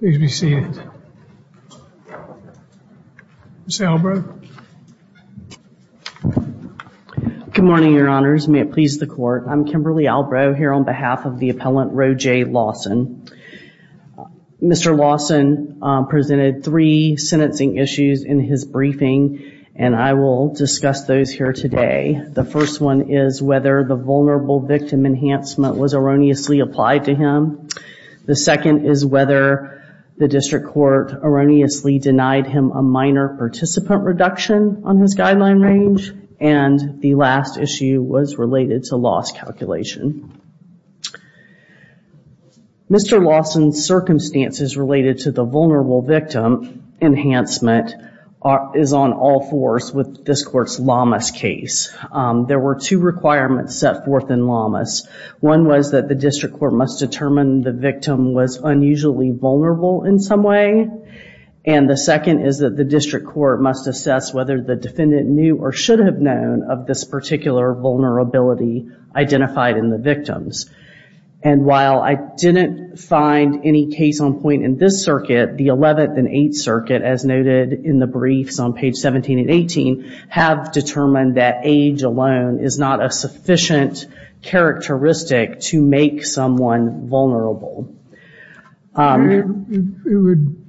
Please be seated. Ms. Albrow. Good morning, your honors. May it please the court. I'm Kimberly Albrow here on behalf of the appellant Rojay Lawson. Mr. Lawson presented three sentencing issues in his briefing, and I will discuss those here today. The first one is whether the vulnerable victim enhancement was erroneously applied to him. The second is whether the district court erroneously denied him a minor participant reduction on his guideline range. And the last issue was related to loss calculation. Mr. Lawson's circumstances related to the vulnerable victim enhancement is on all fours with this court's Lamas case. There were two requirements set forth in Lamas. One was that the district court must determine the victim was unusually vulnerable in some way. And the second is that the district court must assess whether the defendant knew or should have known of this particular vulnerability identified in the victims. And while I didn't find any case on point in this circuit, the 11th and 8th circuit, as noted in the briefs on page 17 and 18, have determined that age alone is not a sufficient characteristic to make someone vulnerable. It would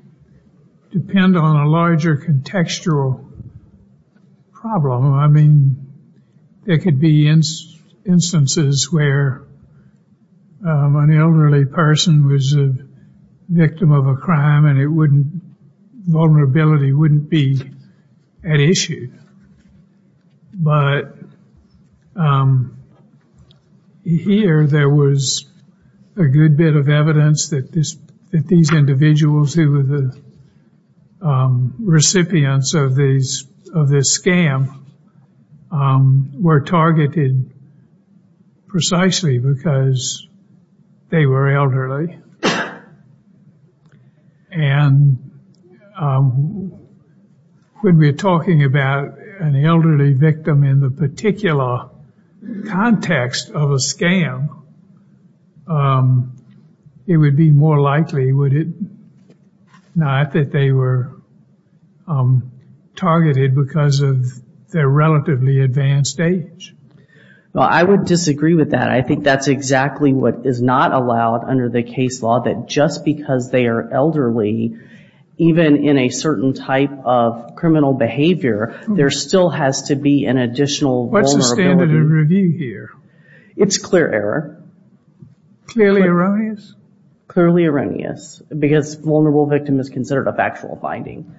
depend on a larger contextual problem. I mean, there could be instances where an elderly person was a victim of a crime and vulnerability wouldn't be at issue. But here there was a good bit of evidence that these individuals who were the recipients of this scam were targeted precisely because they were elderly. And when we're talking about an elderly victim in the particular context of a scam, it would be more likely, would it not, that they were targeted because of their relatively advanced age. Well, I would disagree with that. I think that's exactly what is not allowed under the case law, that just because they are elderly, even in a certain type of criminal behavior, there still has to be an additional vulnerability. What's the standard in review here? It's clear error. Clearly erroneous? Clearly erroneous, because vulnerable victim is considered a factual finding.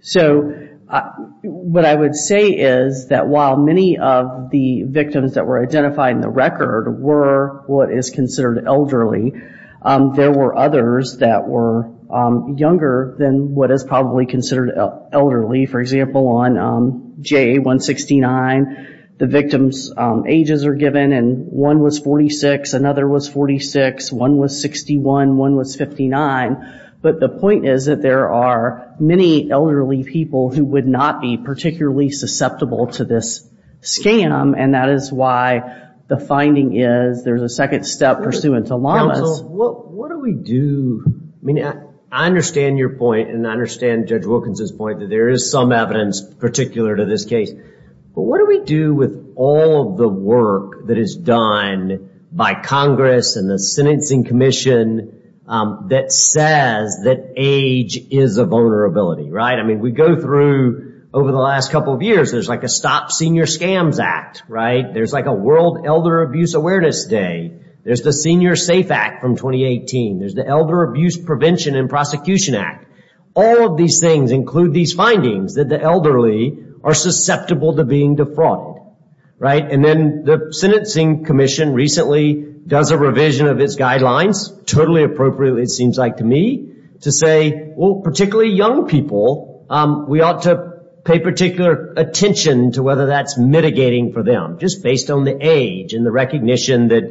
So what I would say is that while many of the victims that were identified in the record were what is considered elderly, there were others that were younger than what is probably considered elderly. For example, on JA-169, the victim's ages are given, and one was 46, another was 46, one was 61, one was 59. But the point is that there are many elderly people who would not be particularly susceptible to this scam, and that is why the finding is there's a second step pursuant to LAMAs. Counsel, what do we do? I mean, I understand your point, and I understand Judge Wilkins' point that there is some evidence particular to this case. But what do we do with all of the work that is done by Congress and the Sentencing Commission that says that age is a vulnerability, right? I mean, we go through over the last couple of years, there's like a Stop Senior Scams Act, right? There's like a World Elder Abuse Awareness Day. There's the Senior Safe Act from 2018. There's the Elder Abuse Prevention and Prosecution Act. All of these things include these findings that the elderly are susceptible to being defrauded, right? And then the Sentencing Commission recently does a revision of its guidelines, totally appropriately it seems like to me, to say, well, particularly young people, we ought to pay particular attention to whether that's mitigating for them, just based on the age and the recognition that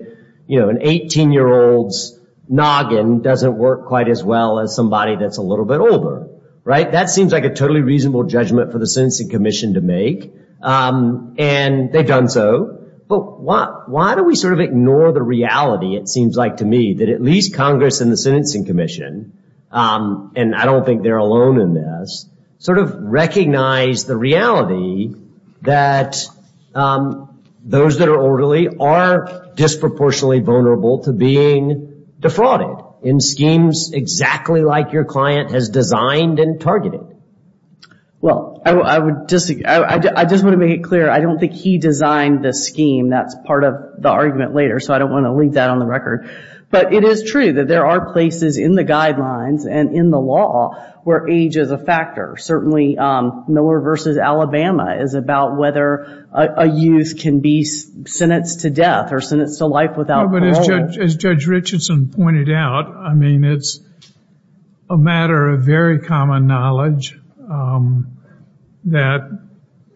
an 18-year-old's noggin doesn't work quite as well as somebody that's a little bit older, right? That seems like a totally reasonable judgment for the Sentencing Commission to make, and they've done so. But why do we sort of ignore the reality, it seems like to me, that at least Congress and the Sentencing Commission, and I don't think they're alone in this, sort of recognize the reality that those that are elderly are disproportionately vulnerable to being defrauded in schemes exactly like your client has designed and targeted? Well, I just want to make it clear, I don't think he designed this scheme. That's part of the argument later, so I don't want to leave that on the record. But it is true that there are places in the guidelines and in the law where age is a factor. Certainly, Miller v. Alabama is about whether a youth can be sentenced to death or sentenced to life without parole. As Judge Richardson pointed out, I mean, it's a matter of very common knowledge that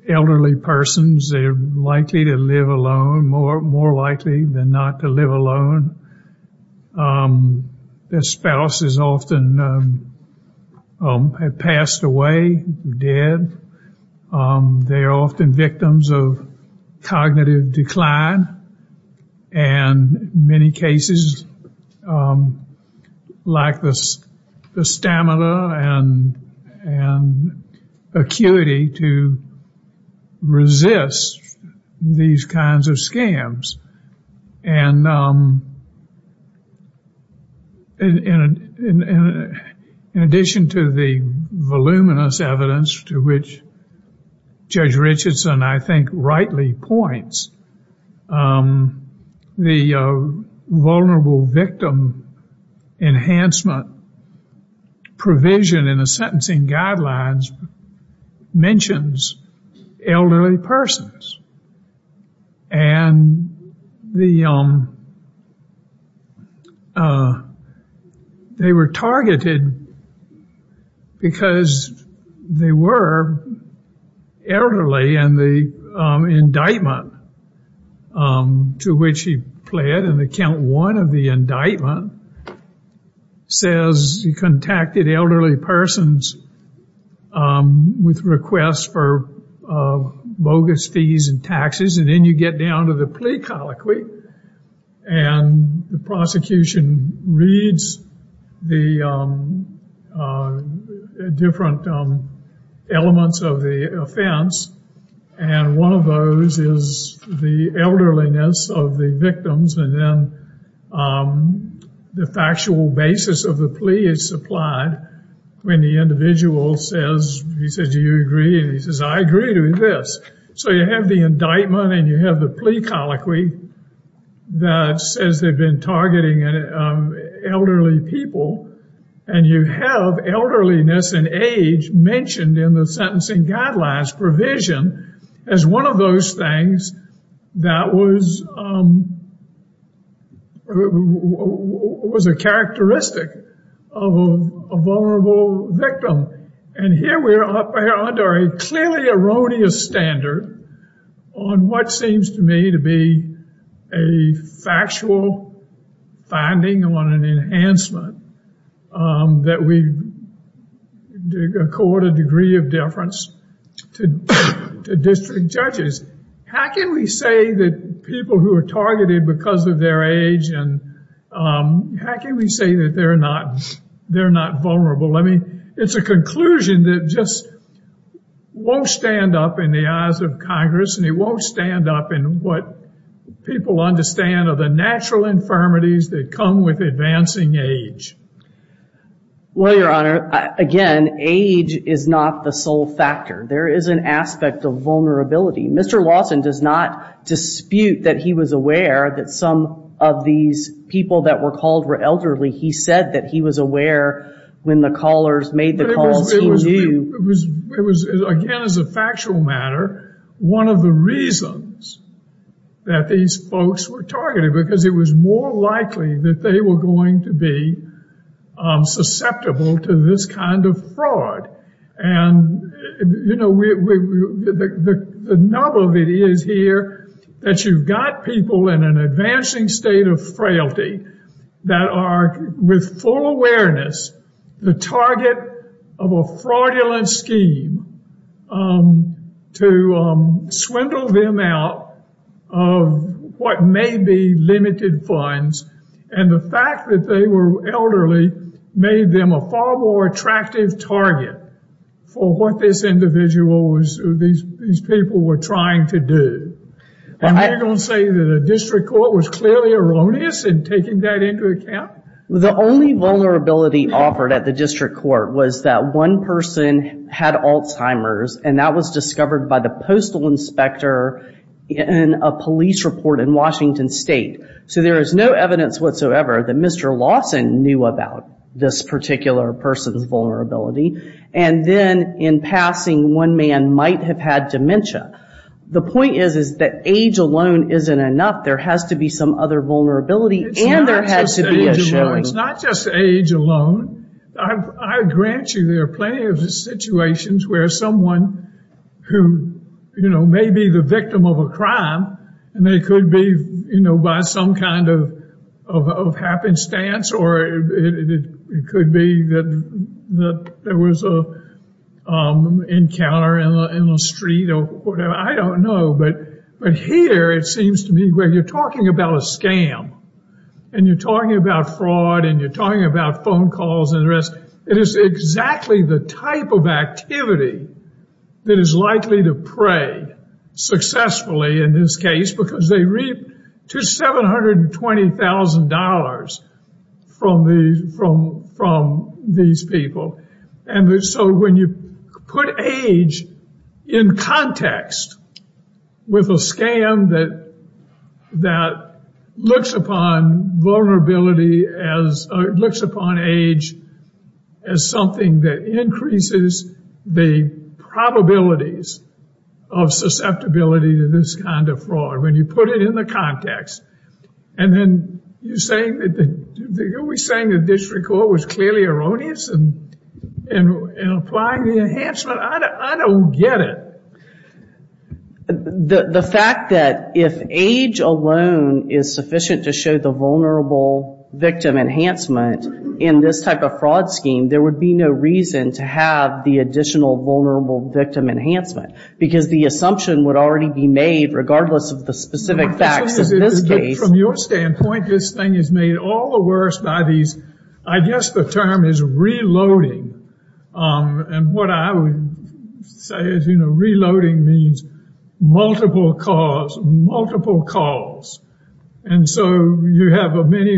elderly persons, they're likely to live alone, more likely than not to live alone. Their spouse has often passed away, dead. They're often victims of cognitive decline, and many cases lack the stamina and acuity to resist these kinds of scams. And in addition to the voluminous evidence to which Judge Richardson, I think, rightly points, the vulnerable victim enhancement provision in the sentencing guidelines mentions elderly persons. And they were targeted because they were elderly, and the indictment to which he pled, in account one of the indictment, says he contacted elderly persons with requests for bogus fees and taxes, and then you get down to the plea colloquy, and the prosecution reads the different elements of the offense, and one of those is the elderliness of the victims, and then the factual basis of the plea is supplied when the individual says, he says, do you agree, and he says, I agree to this. So you have the indictment and you have the plea colloquy that says they've been targeting elderly people, and you have elderliness and age mentioned in the sentencing guidelines provision as one of those things that was a characteristic of a vulnerable victim. And here we are under a clearly erroneous standard on what seems to me to be a factual finding on an enhancement that we accord a degree of deference to district judges. How can we say that people who are targeted because of their age and how can we say that they're not vulnerable? I mean, it's a conclusion that just won't stand up in the eyes of Congress, and it won't stand up in what people understand are the natural infirmities that come with advancing age. Well, Your Honor, again, age is not the sole factor. There is an aspect of vulnerability. Mr. Lawson does not dispute that he was aware that some of these people that were called were elderly. He said that he was aware when the callers made the calls. It was, again, as a factual matter, one of the reasons that these folks were targeted, because it was more likely that they were going to be susceptible to this kind of fraud. And, you know, the nub of it is here that you've got people in an advancing state of frailty that are, with full awareness, the target of a fraudulent scheme to swindle them out of what may be limited funds. And the fact that they were elderly made them a far more attractive target for what these people were trying to do. And you're going to say that a district court was clearly erroneous in taking that into account? The only vulnerability offered at the district court was that one person had Alzheimer's, and that was discovered by the postal inspector in a police report in Washington State. So there is no evidence whatsoever that Mr. Lawson knew about this particular person's vulnerability. And then, in passing, one man might have had dementia. The point is that age alone isn't enough. There has to be some other vulnerability, and there has to be a showing. It's not just age alone. I grant you there are plenty of situations where someone who, you know, may be the victim of a crime, and they could be, you know, by some kind of happenstance, or it could be that there was an encounter in the street or whatever. I don't know, but here it seems to me where you're talking about a scam, and you're talking about fraud, and you're talking about phone calls and the rest, it is exactly the type of activity that is likely to prey successfully in this case because they reap $2,720,000 from these people. And so when you put age in context with a scam that looks upon vulnerability as, looks upon age as something that increases the probabilities of susceptibility to this kind of fraud, when you put it in the context, and then you're saying that, are we saying the district court was clearly erroneous in applying the enhancement? I don't get it. The fact that if age alone is sufficient to show the vulnerable victim enhancement in this type of fraud scheme, there would be no reason to have the additional vulnerable victim enhancement because the assumption would already be made regardless of the specific facts in this case. From your standpoint, this thing is made all the worse by these, I guess the term is reloading. And what I would say is, you know, reloading means multiple calls, multiple calls. And so you have many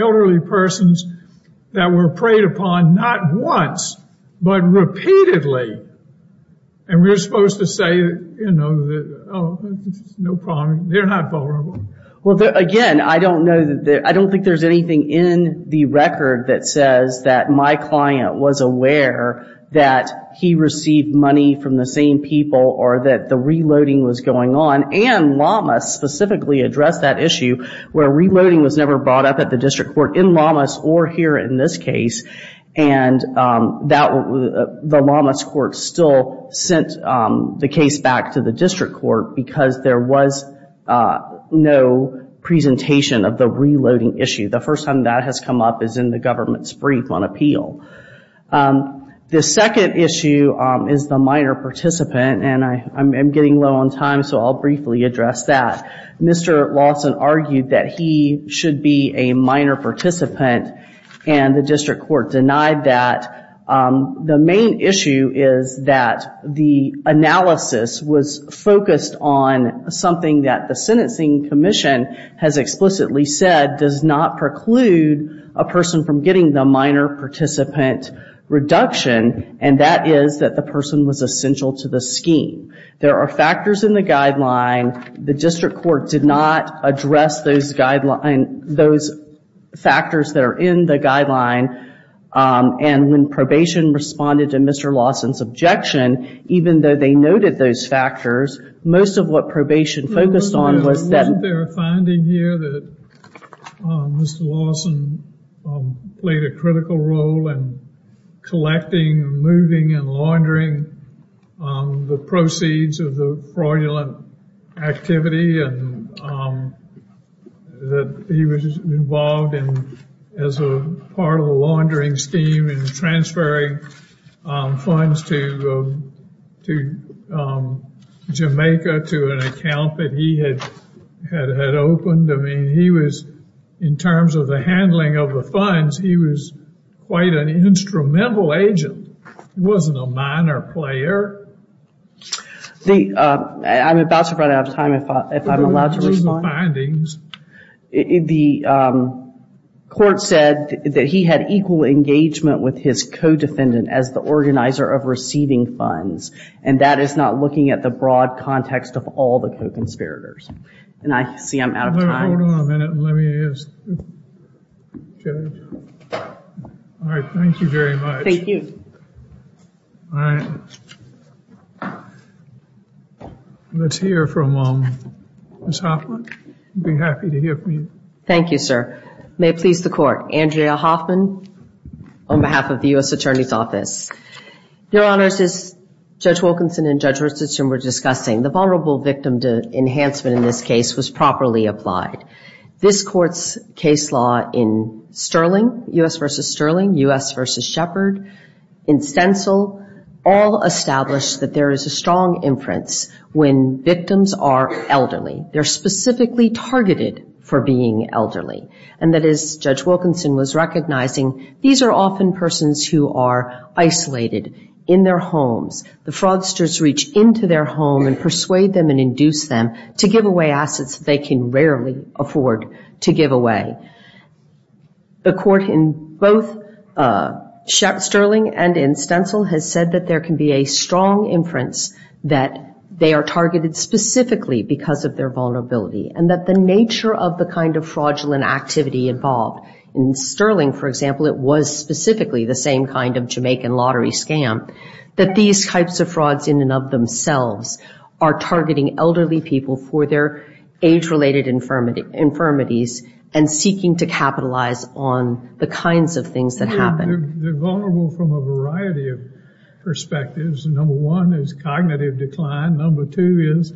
elderly persons that were preyed upon not once, but repeatedly. And we're supposed to say, you know, no problem, they're not vulnerable. Well, again, I don't think there's anything in the record that says that my client was aware that he received money from the same people or that the reloading was going on. And Lomas specifically addressed that issue where reloading was never brought up at the district court in Lomas or here in this case, and the Lomas court still sent the case back to the district court because there was no presentation of the reloading issue. The first time that has come up is in the government's brief on appeal. The second issue is the minor participant, and I'm getting low on time, so I'll briefly address that. Mr. Lawson argued that he should be a minor participant, and the district court denied that. The main issue is that the analysis was focused on something that the sentencing commission has explicitly said does not preclude a person from getting the minor participant reduction, and that is that the person was essential to the scheme. There are factors in the guideline. The district court did not address those factors that are in the guideline, and when probation responded to Mr. Lawson's objection, even though they noted those factors, most of what probation focused on was that- Wasn't there a finding here that Mr. Lawson played a critical role in collecting, removing, and laundering the proceeds of the fraudulent activity that he was involved in as a part of the laundering scheme and transferring funds to Jamaica to an account that he had opened? I mean, he was, in terms of the handling of the funds, he was quite an instrumental agent. He wasn't a minor player. I'm about to run out of time, if I'm allowed to respond. The court said that he had equal engagement with his co-defendant as the organizer of receiving funds, and that is not looking at the broad context of all the co-conspirators, and I see I'm out of time. Hold on a minute, let me just check. All right, thank you very much. Thank you. Let's hear from Ms. Hoffman. I'd be happy to hear from you. Thank you, sir. May it please the Court, Andrea Hoffman on behalf of the U.S. Attorney's Office. Your Honors, as Judge Wilkinson and Judge Richardson were discussing, the Vulnerable Victim Enhancement in this case was properly applied. This Court's case law in Sterling, U.S. v. Sterling, U.S. v. Shepard, in Stencil, all established that there is a strong inference when victims are elderly. They're specifically targeted for being elderly, and that is, Judge Wilkinson was recognizing, these are often persons who are isolated in their homes. The fraudsters reach into their home and persuade them and induce them to give away assets they can rarely afford to give away. The Court in both Sterling and in Stencil has said that there can be a strong inference that they are targeted specifically because of their vulnerability and that the nature of the kind of fraudulent activity involved, in Sterling, for example, it was specifically the same kind of Jamaican lottery scam, that these types of frauds in and of themselves are targeting elderly people for their age-related infirmities and seeking to capitalize on the kinds of things that happen. They're vulnerable from a variety of perspectives. Number one is cognitive decline. Number two is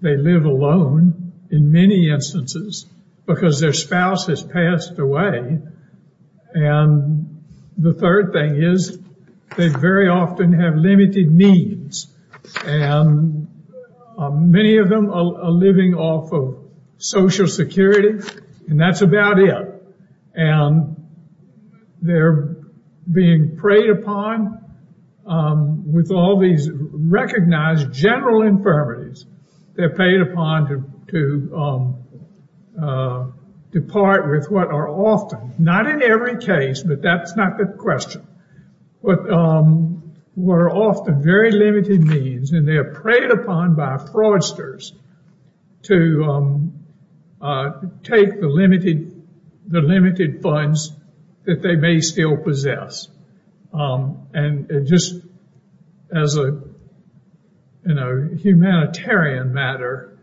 they live alone in many instances because their spouse has passed away. And the third thing is they very often have limited needs, and many of them are living off of Social Security, and that's about it. And they're being preyed upon with all these recognized general infirmities. They're preyed upon to depart with what are often, not in every case, but that's not the question, what are often very limited needs, and they're preyed upon by fraudsters to take the limited funds that they may still possess. And just as a humanitarian matter,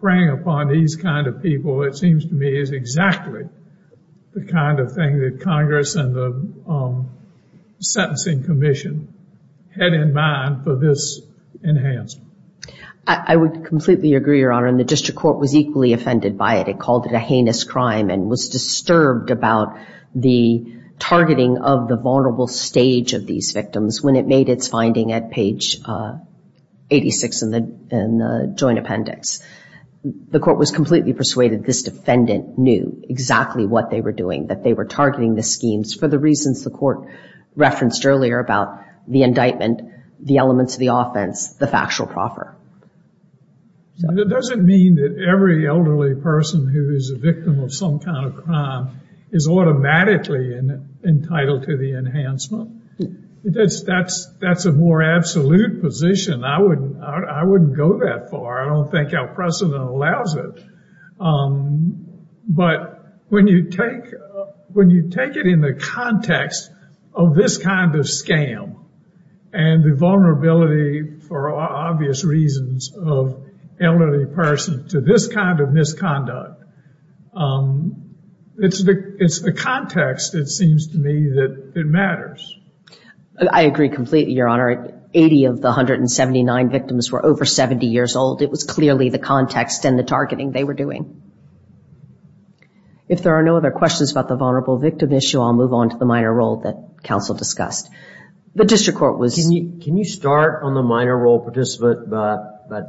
preying upon these kind of people, it seems to me, is exactly the kind of thing that Congress and the Sentencing Commission had in mind for this enhancement. I would completely agree, Your Honor, and the District Court was equally offended by it. It called it a heinous crime and was disturbed about the targeting of the vulnerable stage of these victims when it made its finding at page 86 in the joint appendix. The court was completely persuaded this defendant knew exactly what they were doing, that they were targeting the schemes for the reasons the court referenced earlier about the indictment, the elements of the offense, the factual proffer. It doesn't mean that every elderly person who is a victim of some kind of crime is automatically entitled to the enhancement. That's a more absolute position. I wouldn't go that far. I don't think our precedent allows it. But when you take it in the context of this kind of scam and the vulnerability for obvious reasons of elderly persons to this kind of misconduct, it's the context, it seems to me, that matters. I agree completely, Your Honor. Eighty of the 179 victims were over 70 years old. It was clearly the context and the targeting they were doing. If there are no other questions about the vulnerable victim issue, I'll move on to the minor role that counsel discussed. Can you start on the minor role participant by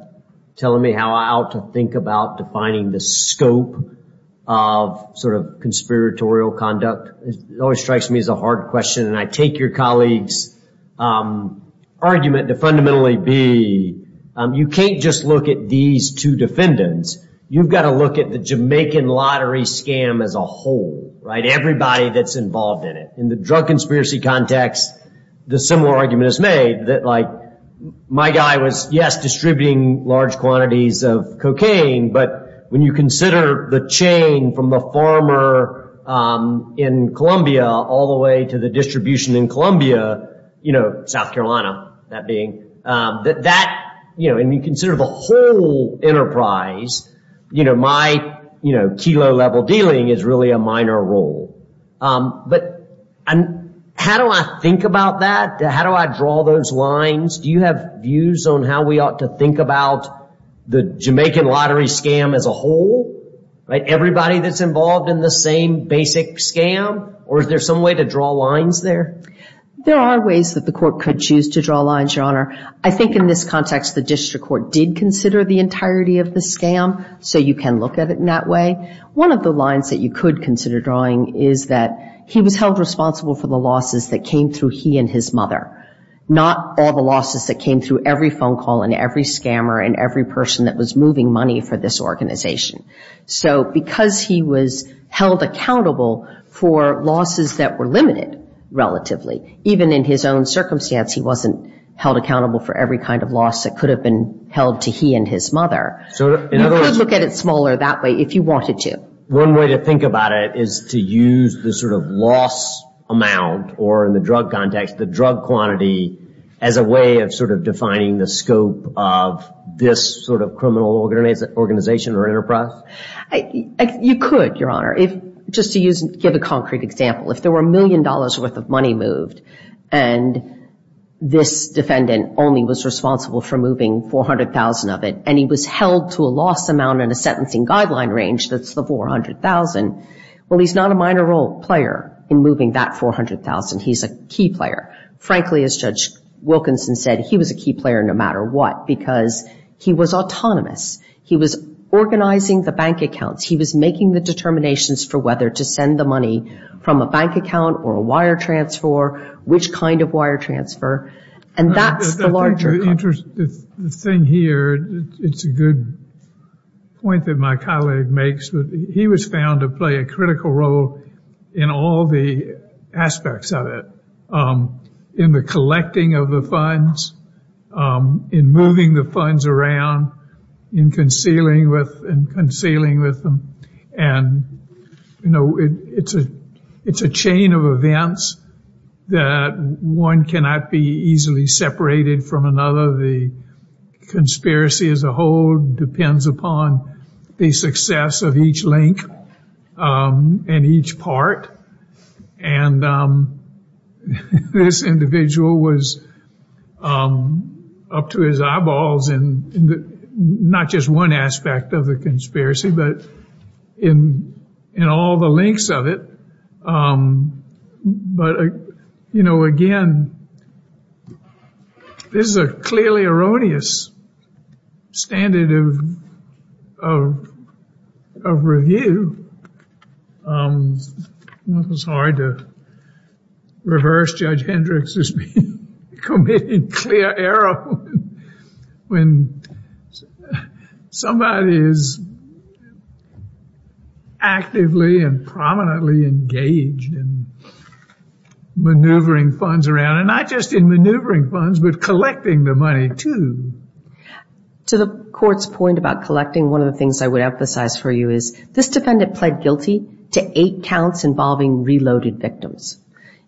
telling me how I ought to think about defining the scope of sort of conspiratorial conduct? It always strikes me as a hard question, and I take your colleague's argument to fundamentally be you can't just look at these two defendants. You've got to look at the Jamaican lottery scam as a whole, right? Everybody that's involved in it. In the drug conspiracy context, the similar argument is made that, like, my guy was, yes, distributing large quantities of cocaine, but when you consider the chain from the farmer in Columbia all the way to the distribution in Columbia, you know, South Carolina, that being, that that, you know, and you consider the whole enterprise, you know, my, you know, kilo-level dealing is really a minor role. But how do I think about that? How do I draw those lines? Do you have views on how we ought to think about the Jamaican lottery scam as a whole? Like, everybody that's involved in the same basic scam? Or is there some way to draw lines there? There are ways that the court could choose to draw lines, Your Honor. I think in this context the district court did consider the entirety of the scam, so you can look at it in that way. One of the lines that you could consider drawing is that he was held responsible for the losses that came through he and his mother, not all the losses that came through every phone call and every scammer and every person that was moving money for this organization. So because he was held accountable for losses that were limited relatively, even in his own circumstance he wasn't held accountable for every kind of loss that could have been held to he and his mother. You could look at it smaller that way if you wanted to. One way to think about it is to use the sort of loss amount, or in the drug context the drug quantity, as a way of sort of defining the scope of this sort of criminal organization or enterprise? You could, Your Honor, just to give a concrete example. If there were a million dollars' worth of money moved and this defendant only was responsible for moving 400,000 of it and he was held to a loss amount in a sentencing guideline range that's the 400,000, well, he's not a minor role player in moving that 400,000. He's a key player. Frankly, as Judge Wilkinson said, he was a key player no matter what because he was autonomous. He was organizing the bank accounts. He was making the determinations for whether to send the money from a bank account or a wire transfer, which kind of wire transfer, and that's the larger part. The thing here, it's a good point that my colleague makes, but he was found to play a critical role in all the aspects of it, in the collecting of the funds, in moving the funds around, in concealing with them, and, you know, it's a chain of events that one cannot be easily separated from another. The conspiracy as a whole depends upon the success of each link and each part, and this individual was up to his eyeballs in not just one aspect of the conspiracy, but in all the links of it. But, you know, again, this is a clearly erroneous standard of review. It's hard to reverse Judge Hendricks' view, committing clear error when somebody is actively and prominently engaged in maneuvering funds around, and not just in maneuvering funds, but collecting the money, too. To the court's point about collecting, one of the things I would emphasize for you is this defendant pled guilty to eight counts involving reloaded victims.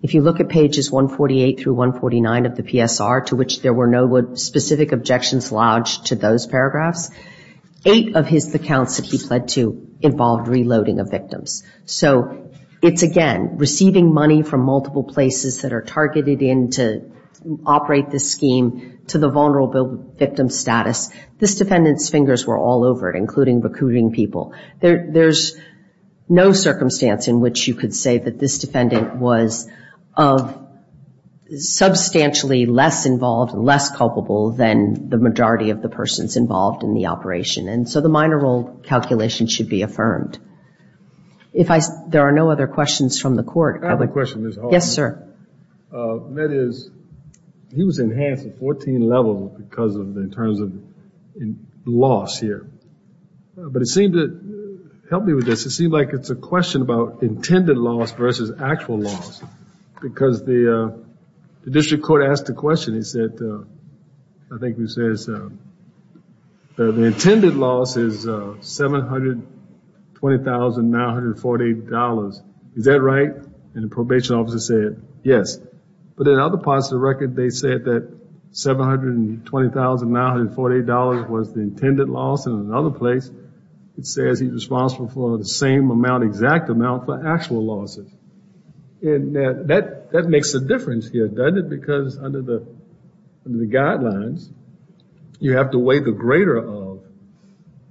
If you look at pages 148 through 149 of the PSR, to which there were no specific objections lodged to those paragraphs, eight of the counts that he pled to involved reloading of victims. So it's, again, receiving money from multiple places that are targeted in to operate this scheme to the vulnerable victim status. This defendant's fingers were all over it, including recruiting people. There's no circumstance in which you could say that this defendant was substantially less involved, less culpable, than the majority of the persons involved in the operation. And so the minor role calculation should be affirmed. There are no other questions from the court. I have a question, Ms. Hoffman. Yes, sir. He was enhanced at 14 levels in terms of loss here. But it seemed to help me with this. It seemed like it's a question about intended loss versus actual loss. Because the district court asked a question. He said, I think he says, the intended loss is $720,948. Is that right? And the probation officer said, yes. But in other parts of the record, they said that $720,948 was the intended loss. And in another place, it says he's responsible for the same amount, exact amount for actual losses. And that makes a difference here, doesn't it? Because under the guidelines, you have to weigh the greater of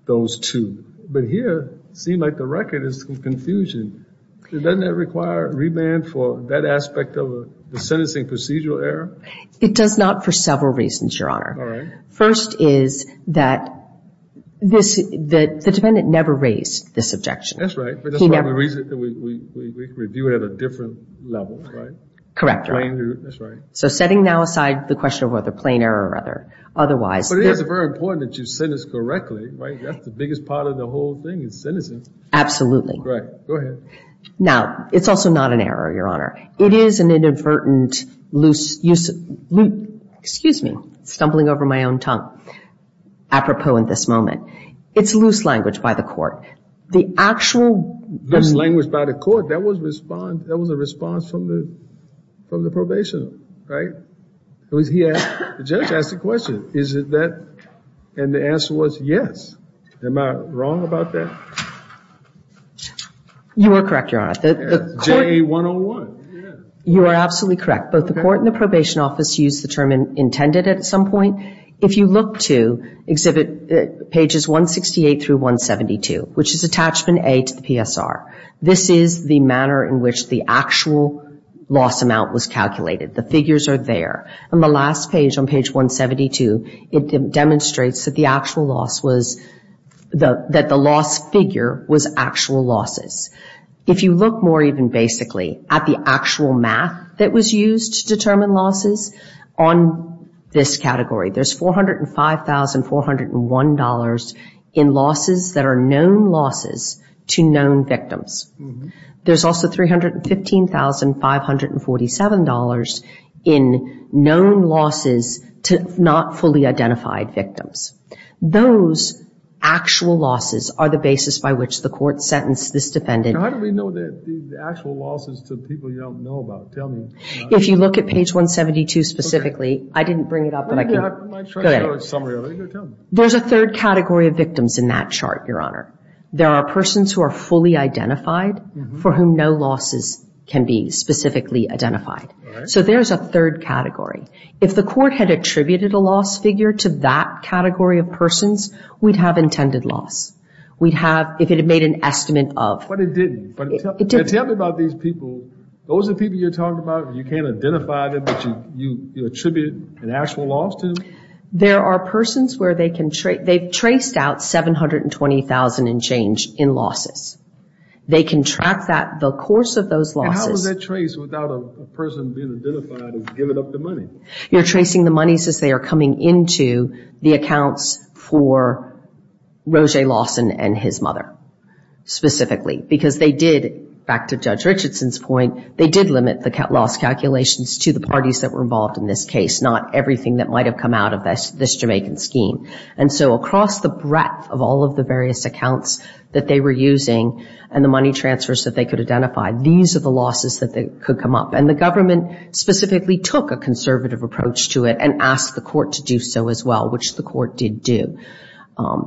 those two. But here, it seemed like the record is some confusion. Doesn't that require remand for that aspect of the sentencing procedural error? It does not for several reasons, Your Honor. All right. First is that the dependent never raised this objection. That's right. But that's why we review it at a different level, right? Correct, Your Honor. That's right. So setting now aside the question of whether plain error or otherwise. But it is very important that you sentence correctly, right? That's the biggest part of the whole thing is sentencing. Absolutely. Right. Go ahead. Now, it's also not an error, Your Honor. It is an inadvertent loose use of – excuse me, stumbling over my own tongue. Apropos in this moment. It's loose language by the court. The actual – Loose language by the court. That was a response from the probation, right? The judge asked the question, is it that? And the answer was yes. Am I wrong about that? You are correct, Your Honor. JA 101. You are absolutely correct. Both the court and the probation office used the term intended at some point. If you look to exhibit pages 168 through 172, which is attachment A to the PSR, this is the manner in which the actual loss amount was calculated. The figures are there. On the last page, on page 172, it demonstrates that the actual loss was – that the loss figure was actual losses. If you look more even basically at the actual math that was used to determine losses, on this category there's $405,401 in losses that are known losses to known victims. There's also $315,547 in known losses to not fully identified victims. Those actual losses are the basis by which the court sentenced this defendant. How do we know the actual losses to people you don't know about? Tell me. If you look at page 172 specifically – I didn't bring it up, but I can – Go ahead. There's a third category of victims in that chart, Your Honor. There are persons who are fully identified for whom no losses can be specifically identified. All right. So there's a third category. If the court had attributed a loss figure to that category of persons, we'd have intended loss. We'd have – if it had made an estimate of – But it didn't. It didn't. Tell me about these people. Those are the people you're talking about, you can't identify them, but you attribute an actual loss to? There are persons where they can – they've traced out $720,000 and change in losses. They can track that. The course of those losses – How is that traced without a person being identified as giving up the money? You're tracing the monies as they are coming into the accounts for Roger Lawson and his mother, specifically. Because they did, back to Judge Richardson's point, they did limit the loss calculations to the parties that were involved in this case, not everything that might have come out of this Jamaican scheme. And so across the breadth of all of the various accounts that they were using and the money transfers that they could identify, these are the losses that could come up. And the government specifically took a conservative approach to it and asked the court to do so as well, which the court did do.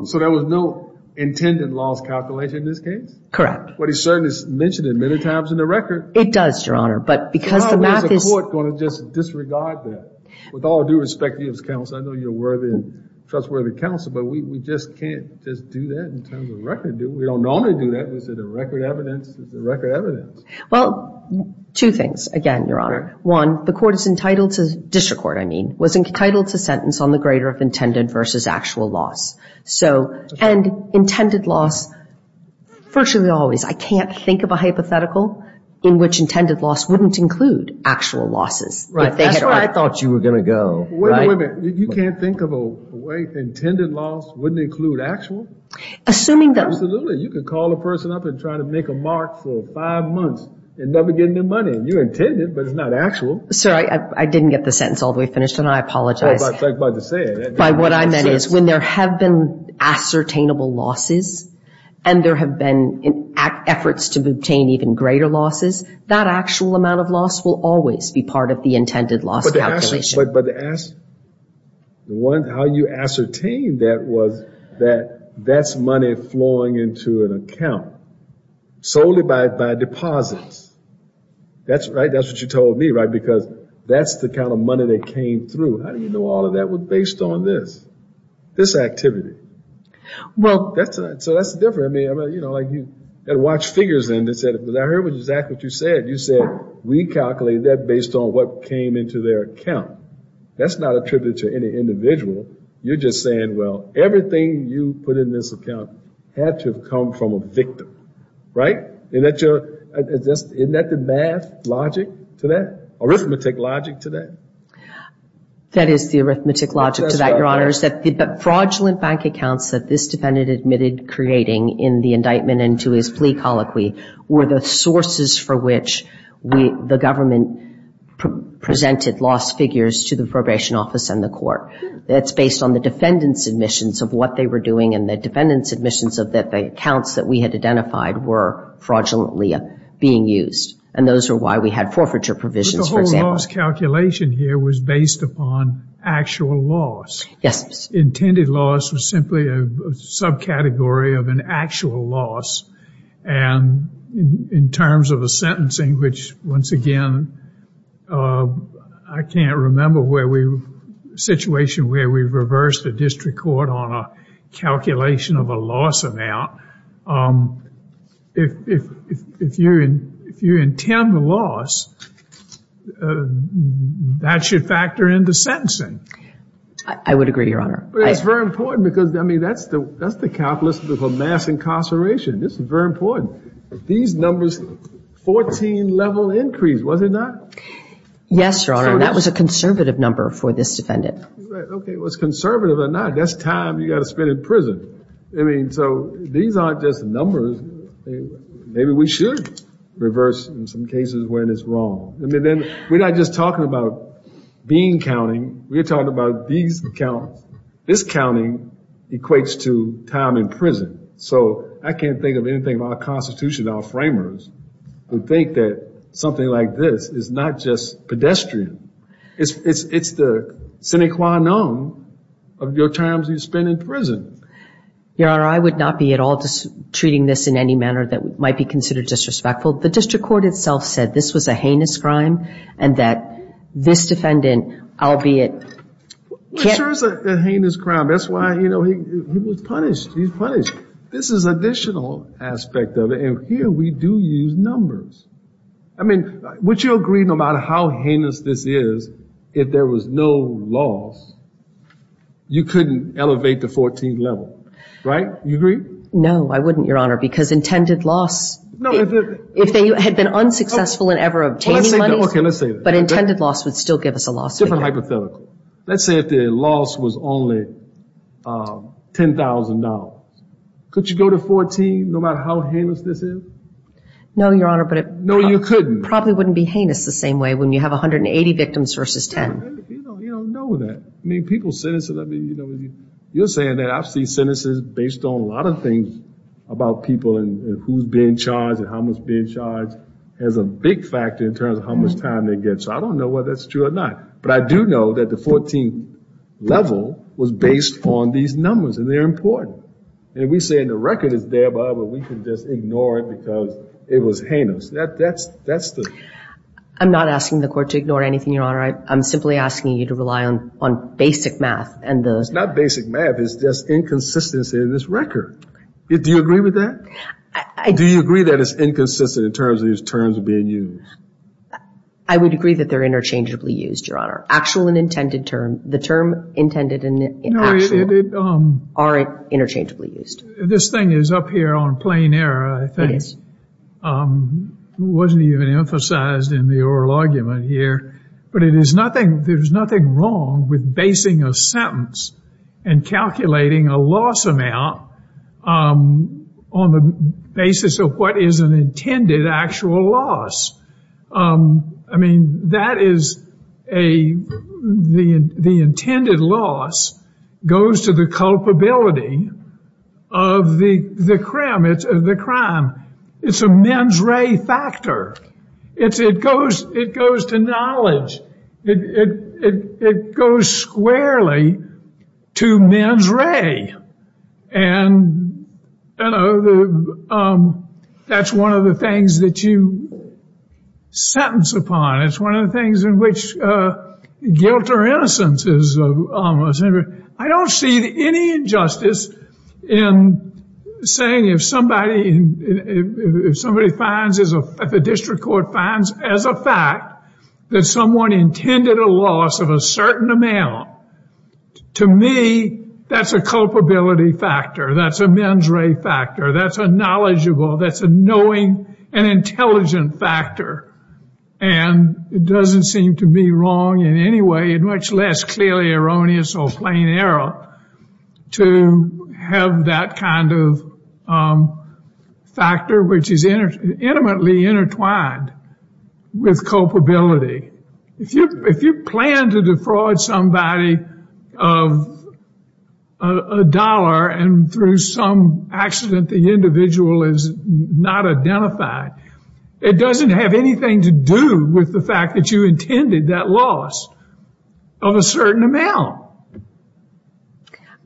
So there was no intended loss calculation in this case? Correct. But he certainly mentioned it many times in the record. It does, Your Honor, but because the math is – I was going to just disregard that. With all due respect to you as counsel, I know you're a worthy and trustworthy counsel, but we just can't just do that in terms of record. We don't normally do that. Is it a record evidence? It's a record evidence. Well, two things, again, Your Honor. One, the court is entitled to – district court, I mean – was entitled to sentence on the grader of intended versus actual loss. So – and intended loss, virtually always. I can't think of a hypothetical in which intended loss wouldn't include actual losses. That's where I thought you were going to go. Wait a minute. You can't think of a way intended loss wouldn't include actual? Assuming that – Absolutely. You could call a person up and try to make a mark for five months and never get any money, and you intended, but it's not actual. Sir, I didn't get the sentence all the way finished, and I apologize. I was about to say it. By what I meant is when there have been ascertainable losses and there have been efforts to obtain even greater losses, that actual amount of loss will always be part of the intended loss calculation. But the – how you ascertained that was that that's money flowing into an account solely by deposits. That's right. That's what you told me, right, because that's the kind of money that came through. How do you know all of that was based on this, this activity? Well, that's a – so that's different. I mean, you know, like you had to watch figures, and I heard exactly what you said. You said we calculated that based on what came into their account. That's not attributed to any individual. You're just saying, well, everything you put in this account had to have come from a victim, right? Isn't that the math logic to that, arithmetic logic to that? That is the arithmetic logic to that, Your Honors. But fraudulent bank accounts that this defendant admitted creating in the indictment and to his plea colloquy were the sources for which the government presented lost figures to the probation office and the court. That's based on the defendant's admissions of what they were doing and the defendant's admissions of the accounts that we had identified were fraudulently being used. And those are why we had forfeiture provisions, for example. The loss calculation here was based upon actual loss. Yes. Intended loss was simply a subcategory of an actual loss. And in terms of the sentencing, which, once again, I can't remember where we – a situation where we reversed the district court on a calculation of a loss amount. If you intend a loss, that should factor into sentencing. I would agree, Your Honor. But it's very important because, I mean, that's the calculus of a mass incarceration. This is very important. These numbers, 14-level increase, was it not? Yes, Your Honor. And that was a conservative number for this defendant. Okay. It was conservative or not. That's time you got to spend in prison. I mean, so these aren't just numbers. Maybe we should reverse in some cases when it's wrong. I mean, then we're not just talking about being counting. We're talking about these accounts. This counting equates to time in prison. So I can't think of anything about our Constitution, our framers, who think that something like this is not just pedestrian. It's the sine qua non of your time you spend in prison. Your Honor, I would not be at all treating this in any manner that might be considered disrespectful. The district court itself said this was a heinous crime and that this defendant, albeit... It sure is a heinous crime. That's why, you know, he was punished. He was punished. This is an additional aspect of it, and here we do use numbers. I mean, would you agree no matter how heinous this is, if there was no loss, you couldn't elevate the 14th level, right? You agree? No, I wouldn't, Your Honor, because intended loss... No, if it... If they had been unsuccessful in ever obtaining money... Well, let's say... Okay, let's say that. But intended loss would still give us a loss. Different hypothetical. Let's say if the loss was only $10,000. Could you go to 14, no matter how heinous this is? No, Your Honor, but it... No, you couldn't. Probably wouldn't be heinous the same way when you have 180 victims versus 10. You don't know that. I mean, people's sentences... I mean, you know, you're saying that I've seen sentences based on a lot of things about people and who's being charged and how much is being charged has a big factor in terms of how much time they get. So I don't know whether that's true or not. But I do know that the 14th level was based on these numbers, and they're important. And we say the record is there, but we can just ignore it because it was heinous. That's the... I'm not asking the court to ignore anything, Your Honor. I'm simply asking you to rely on basic math and the... It's not basic math. It's just inconsistency in this record. Do you agree with that? Do you agree that it's inconsistent in terms of these terms being used? I would agree that they're interchangeably used, Your Honor. Actual and intended term. The term intended and actual aren't interchangeably used. This thing is up here on plain error, I think. It wasn't even emphasized in the oral argument here. But it is nothing... There's nothing wrong with basing a sentence and calculating a loss amount on the basis of what is an intended actual loss. I mean, that is a... The intended loss goes to the culpability of the crime. It's a mens rea factor. It goes to knowledge. It goes squarely to mens rea. And that's one of the things that you sentence upon. It's one of the things in which guilt or innocence is almost... If the district court finds as a fact that someone intended a loss of a certain amount, to me, that's a culpability factor. That's a mens rea factor. That's a knowledgeable. That's a knowing and intelligent factor. And it doesn't seem to be wrong in any way, much less clearly erroneous or plain error to have that kind of factor which is intimately intertwined with culpability. If you plan to defraud somebody of a dollar and through some accident the individual is not identified, it doesn't have anything to do with the fact that you intended that loss of a certain amount.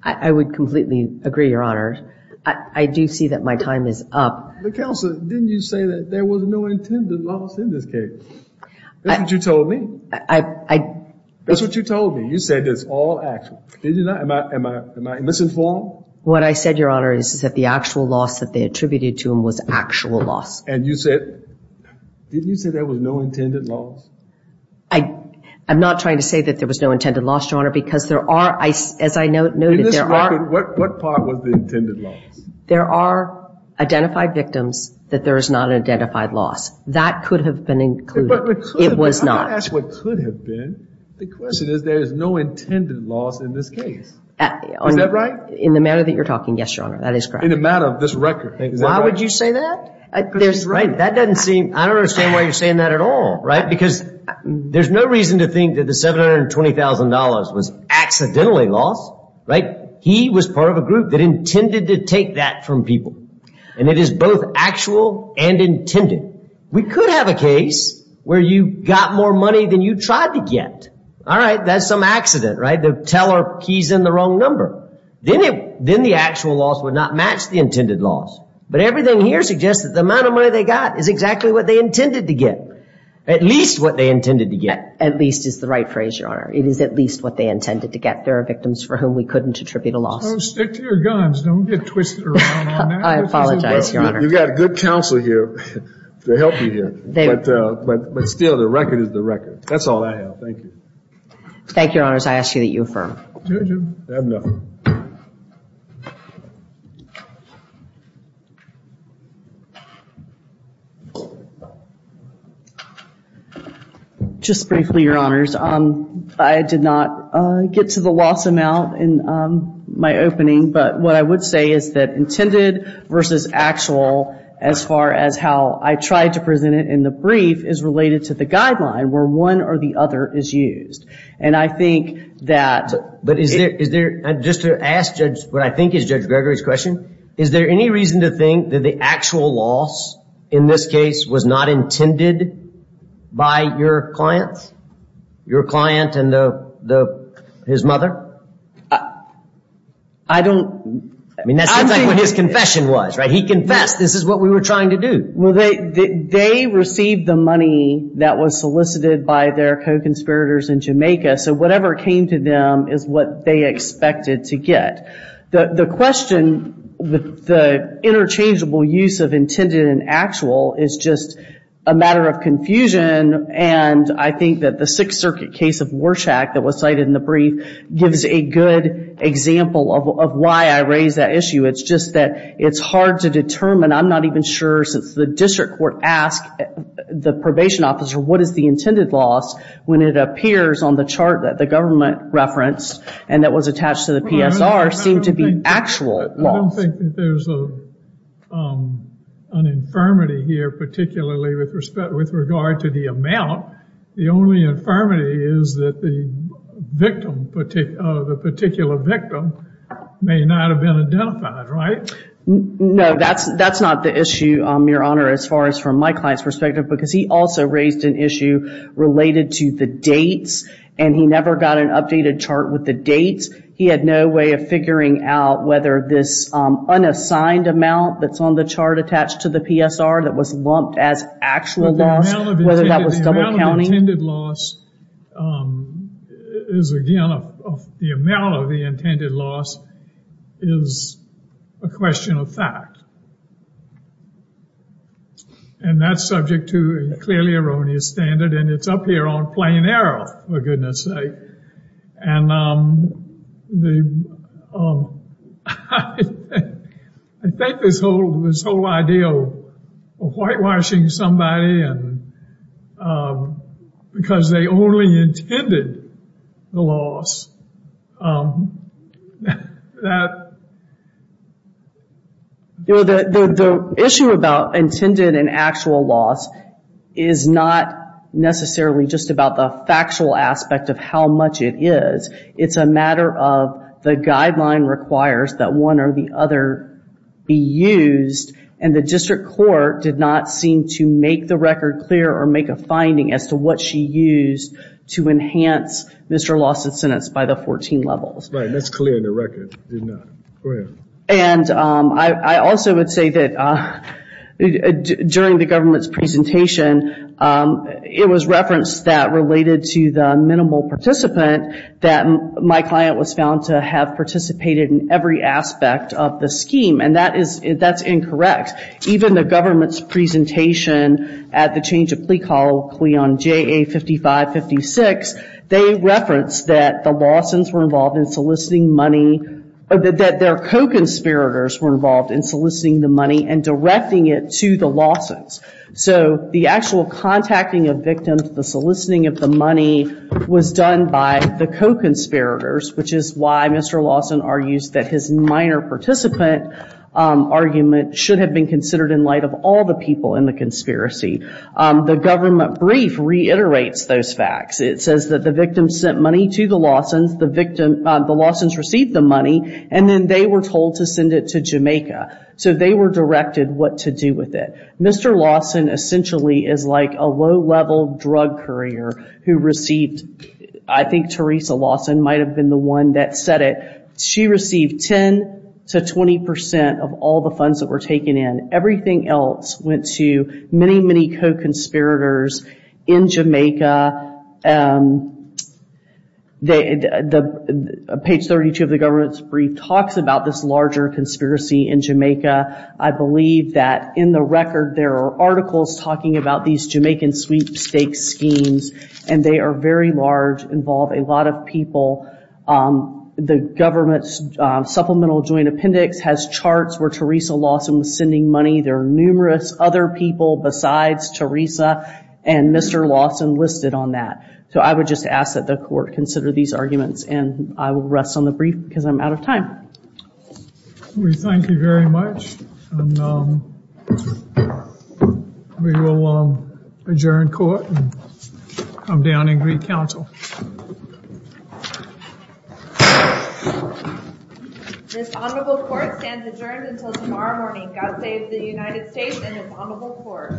I would completely agree, Your Honor. I do see that my time is up. Counsel, didn't you say that there was no intended loss in this case? That's what you told me. That's what you told me. You said it's all actual. Did you not? Am I misinformed? What I said, Your Honor, is that the actual loss that they attributed to him was actual loss. And you said, didn't you say there was no intended loss? I'm not trying to say that there was no intended loss, Your Honor, because there are, as I noted, there are. In this record, what part was the intended loss? There are identified victims that there is not an identified loss. That could have been included. It was not. I asked what could have been. The question is there is no intended loss in this case. Is that right? In the matter that you're talking, yes, Your Honor, that is correct. In the matter of this record, is that right? Why would you say that? That doesn't seem, I don't understand why you're saying that at all, right? Because there's no reason to think that the $720,000 was accidentally lost, right? He was part of a group that intended to take that from people. And it is both actual and intended. We could have a case where you got more money than you tried to get. All right, that's some accident, right? The teller keys in the wrong number. Then the actual loss would not match the intended loss. But everything here suggests that the amount of money they got is exactly what they intended to get, at least what they intended to get. At least is the right phrase, Your Honor. It is at least what they intended to get. There are victims for whom we couldn't attribute a loss. So stick to your guns. Don't get twisted around on that. I apologize, Your Honor. You've got good counsel here to help you here. But still, the record is the record. That's all I have. Thank you. Thank you, Your Honors. I ask that you affirm. I have nothing. Just briefly, Your Honors, I did not get to the loss amount in my opening. But what I would say is that intended versus actual as far as how I tried to present it in the brief is related to the guideline where one or the other is used. And I think that... But is there, just to ask what I think is Judge Gregory's question, is there any reason to think that the actual loss in this case was not intended by your client? Your client and his mother? I don't... I mean, that's what his confession was, right? He confessed this is what we were trying to do. Well, they received the money that was solicited by their co-conspirators in Jamaica, so whatever came to them is what they expected to get. The question with the interchangeable use of intended and actual is just a matter of confusion, and I think that the Sixth Circuit case of Warshak that was cited in the brief gives a good example of why I raise that issue. It's just that it's hard to determine. I'm not even sure since the district court asked the probation officer what is the intended loss when it appears on the chart that the government referenced and that was attached to the PSR seemed to be actual loss. I don't think that there's an infirmity here, particularly with regard to the amount. The only infirmity is that the victim, the particular victim may not have been identified, right? No, that's not the issue, Your Honor, as far as from my client's perspective because he also raised an issue related to the dates, and he never got an updated chart with the dates. He had no way of figuring out whether this unassigned amount that's on the chart attached to the PSR that was lumped as actual loss, whether that was double counting. The amount of intended loss is, again, the amount of the intended loss is a question of fact, and that's subject to a clearly erroneous standard, and it's up here on plain error, for goodness sake. And I think this whole idea of whitewashing somebody because they only intended the loss, that... The issue about intended and actual loss is not necessarily just about the factual aspect of how much it is. It's a matter of the guideline requires that one or the other be used, and the district court did not seem to make the record clear or make a finding as to what she used to enhance Mr. Lawson's sentence by the 14 levels. Right, that's clear in the record. And I also would say that during the government's presentation, it was referenced that related to the minimal participant, that my client was found to have participated in every aspect of the scheme, and that's incorrect. Even the government's presentation at the change of plea colloquy on JA55-56, they referenced that the Lawsons were involved in soliciting money, that their co-conspirators were involved in soliciting the money and directing it to the Lawsons. So the actual contacting of victims, the soliciting of the money, was done by the co-conspirators, which is why Mr. Lawson argues that his minor participant argument should have been considered in light of all the people in the conspiracy. The government brief reiterates those facts. It says that the victim sent money to the Lawsons, the Lawsons received the money, and then they were told to send it to Jamaica. So they were directed what to do with it. Mr. Lawson essentially is like a low-level drug courier who received, I think Teresa Lawson might have been the one that said it, she received 10 to 20 percent of all the funds that were taken in. Everything else went to many, many co-conspirators in Jamaica. Page 32 of the government's brief talks about this larger conspiracy in Jamaica. I believe that in the record there are articles talking about these Jamaican sweepstakes schemes, and they are very large, involve a lot of people. The government's supplemental joint appendix has charts where Teresa Lawson was sending money. There are numerous other people besides Teresa and Mr. Lawson listed on that. So I would just ask that the court consider these arguments, and I will rest on the brief because I'm out of time. We thank you very much. We will adjourn court and come down and greet counsel. This honorable court stands adjourned until tomorrow morning. God save the United States and this honorable court.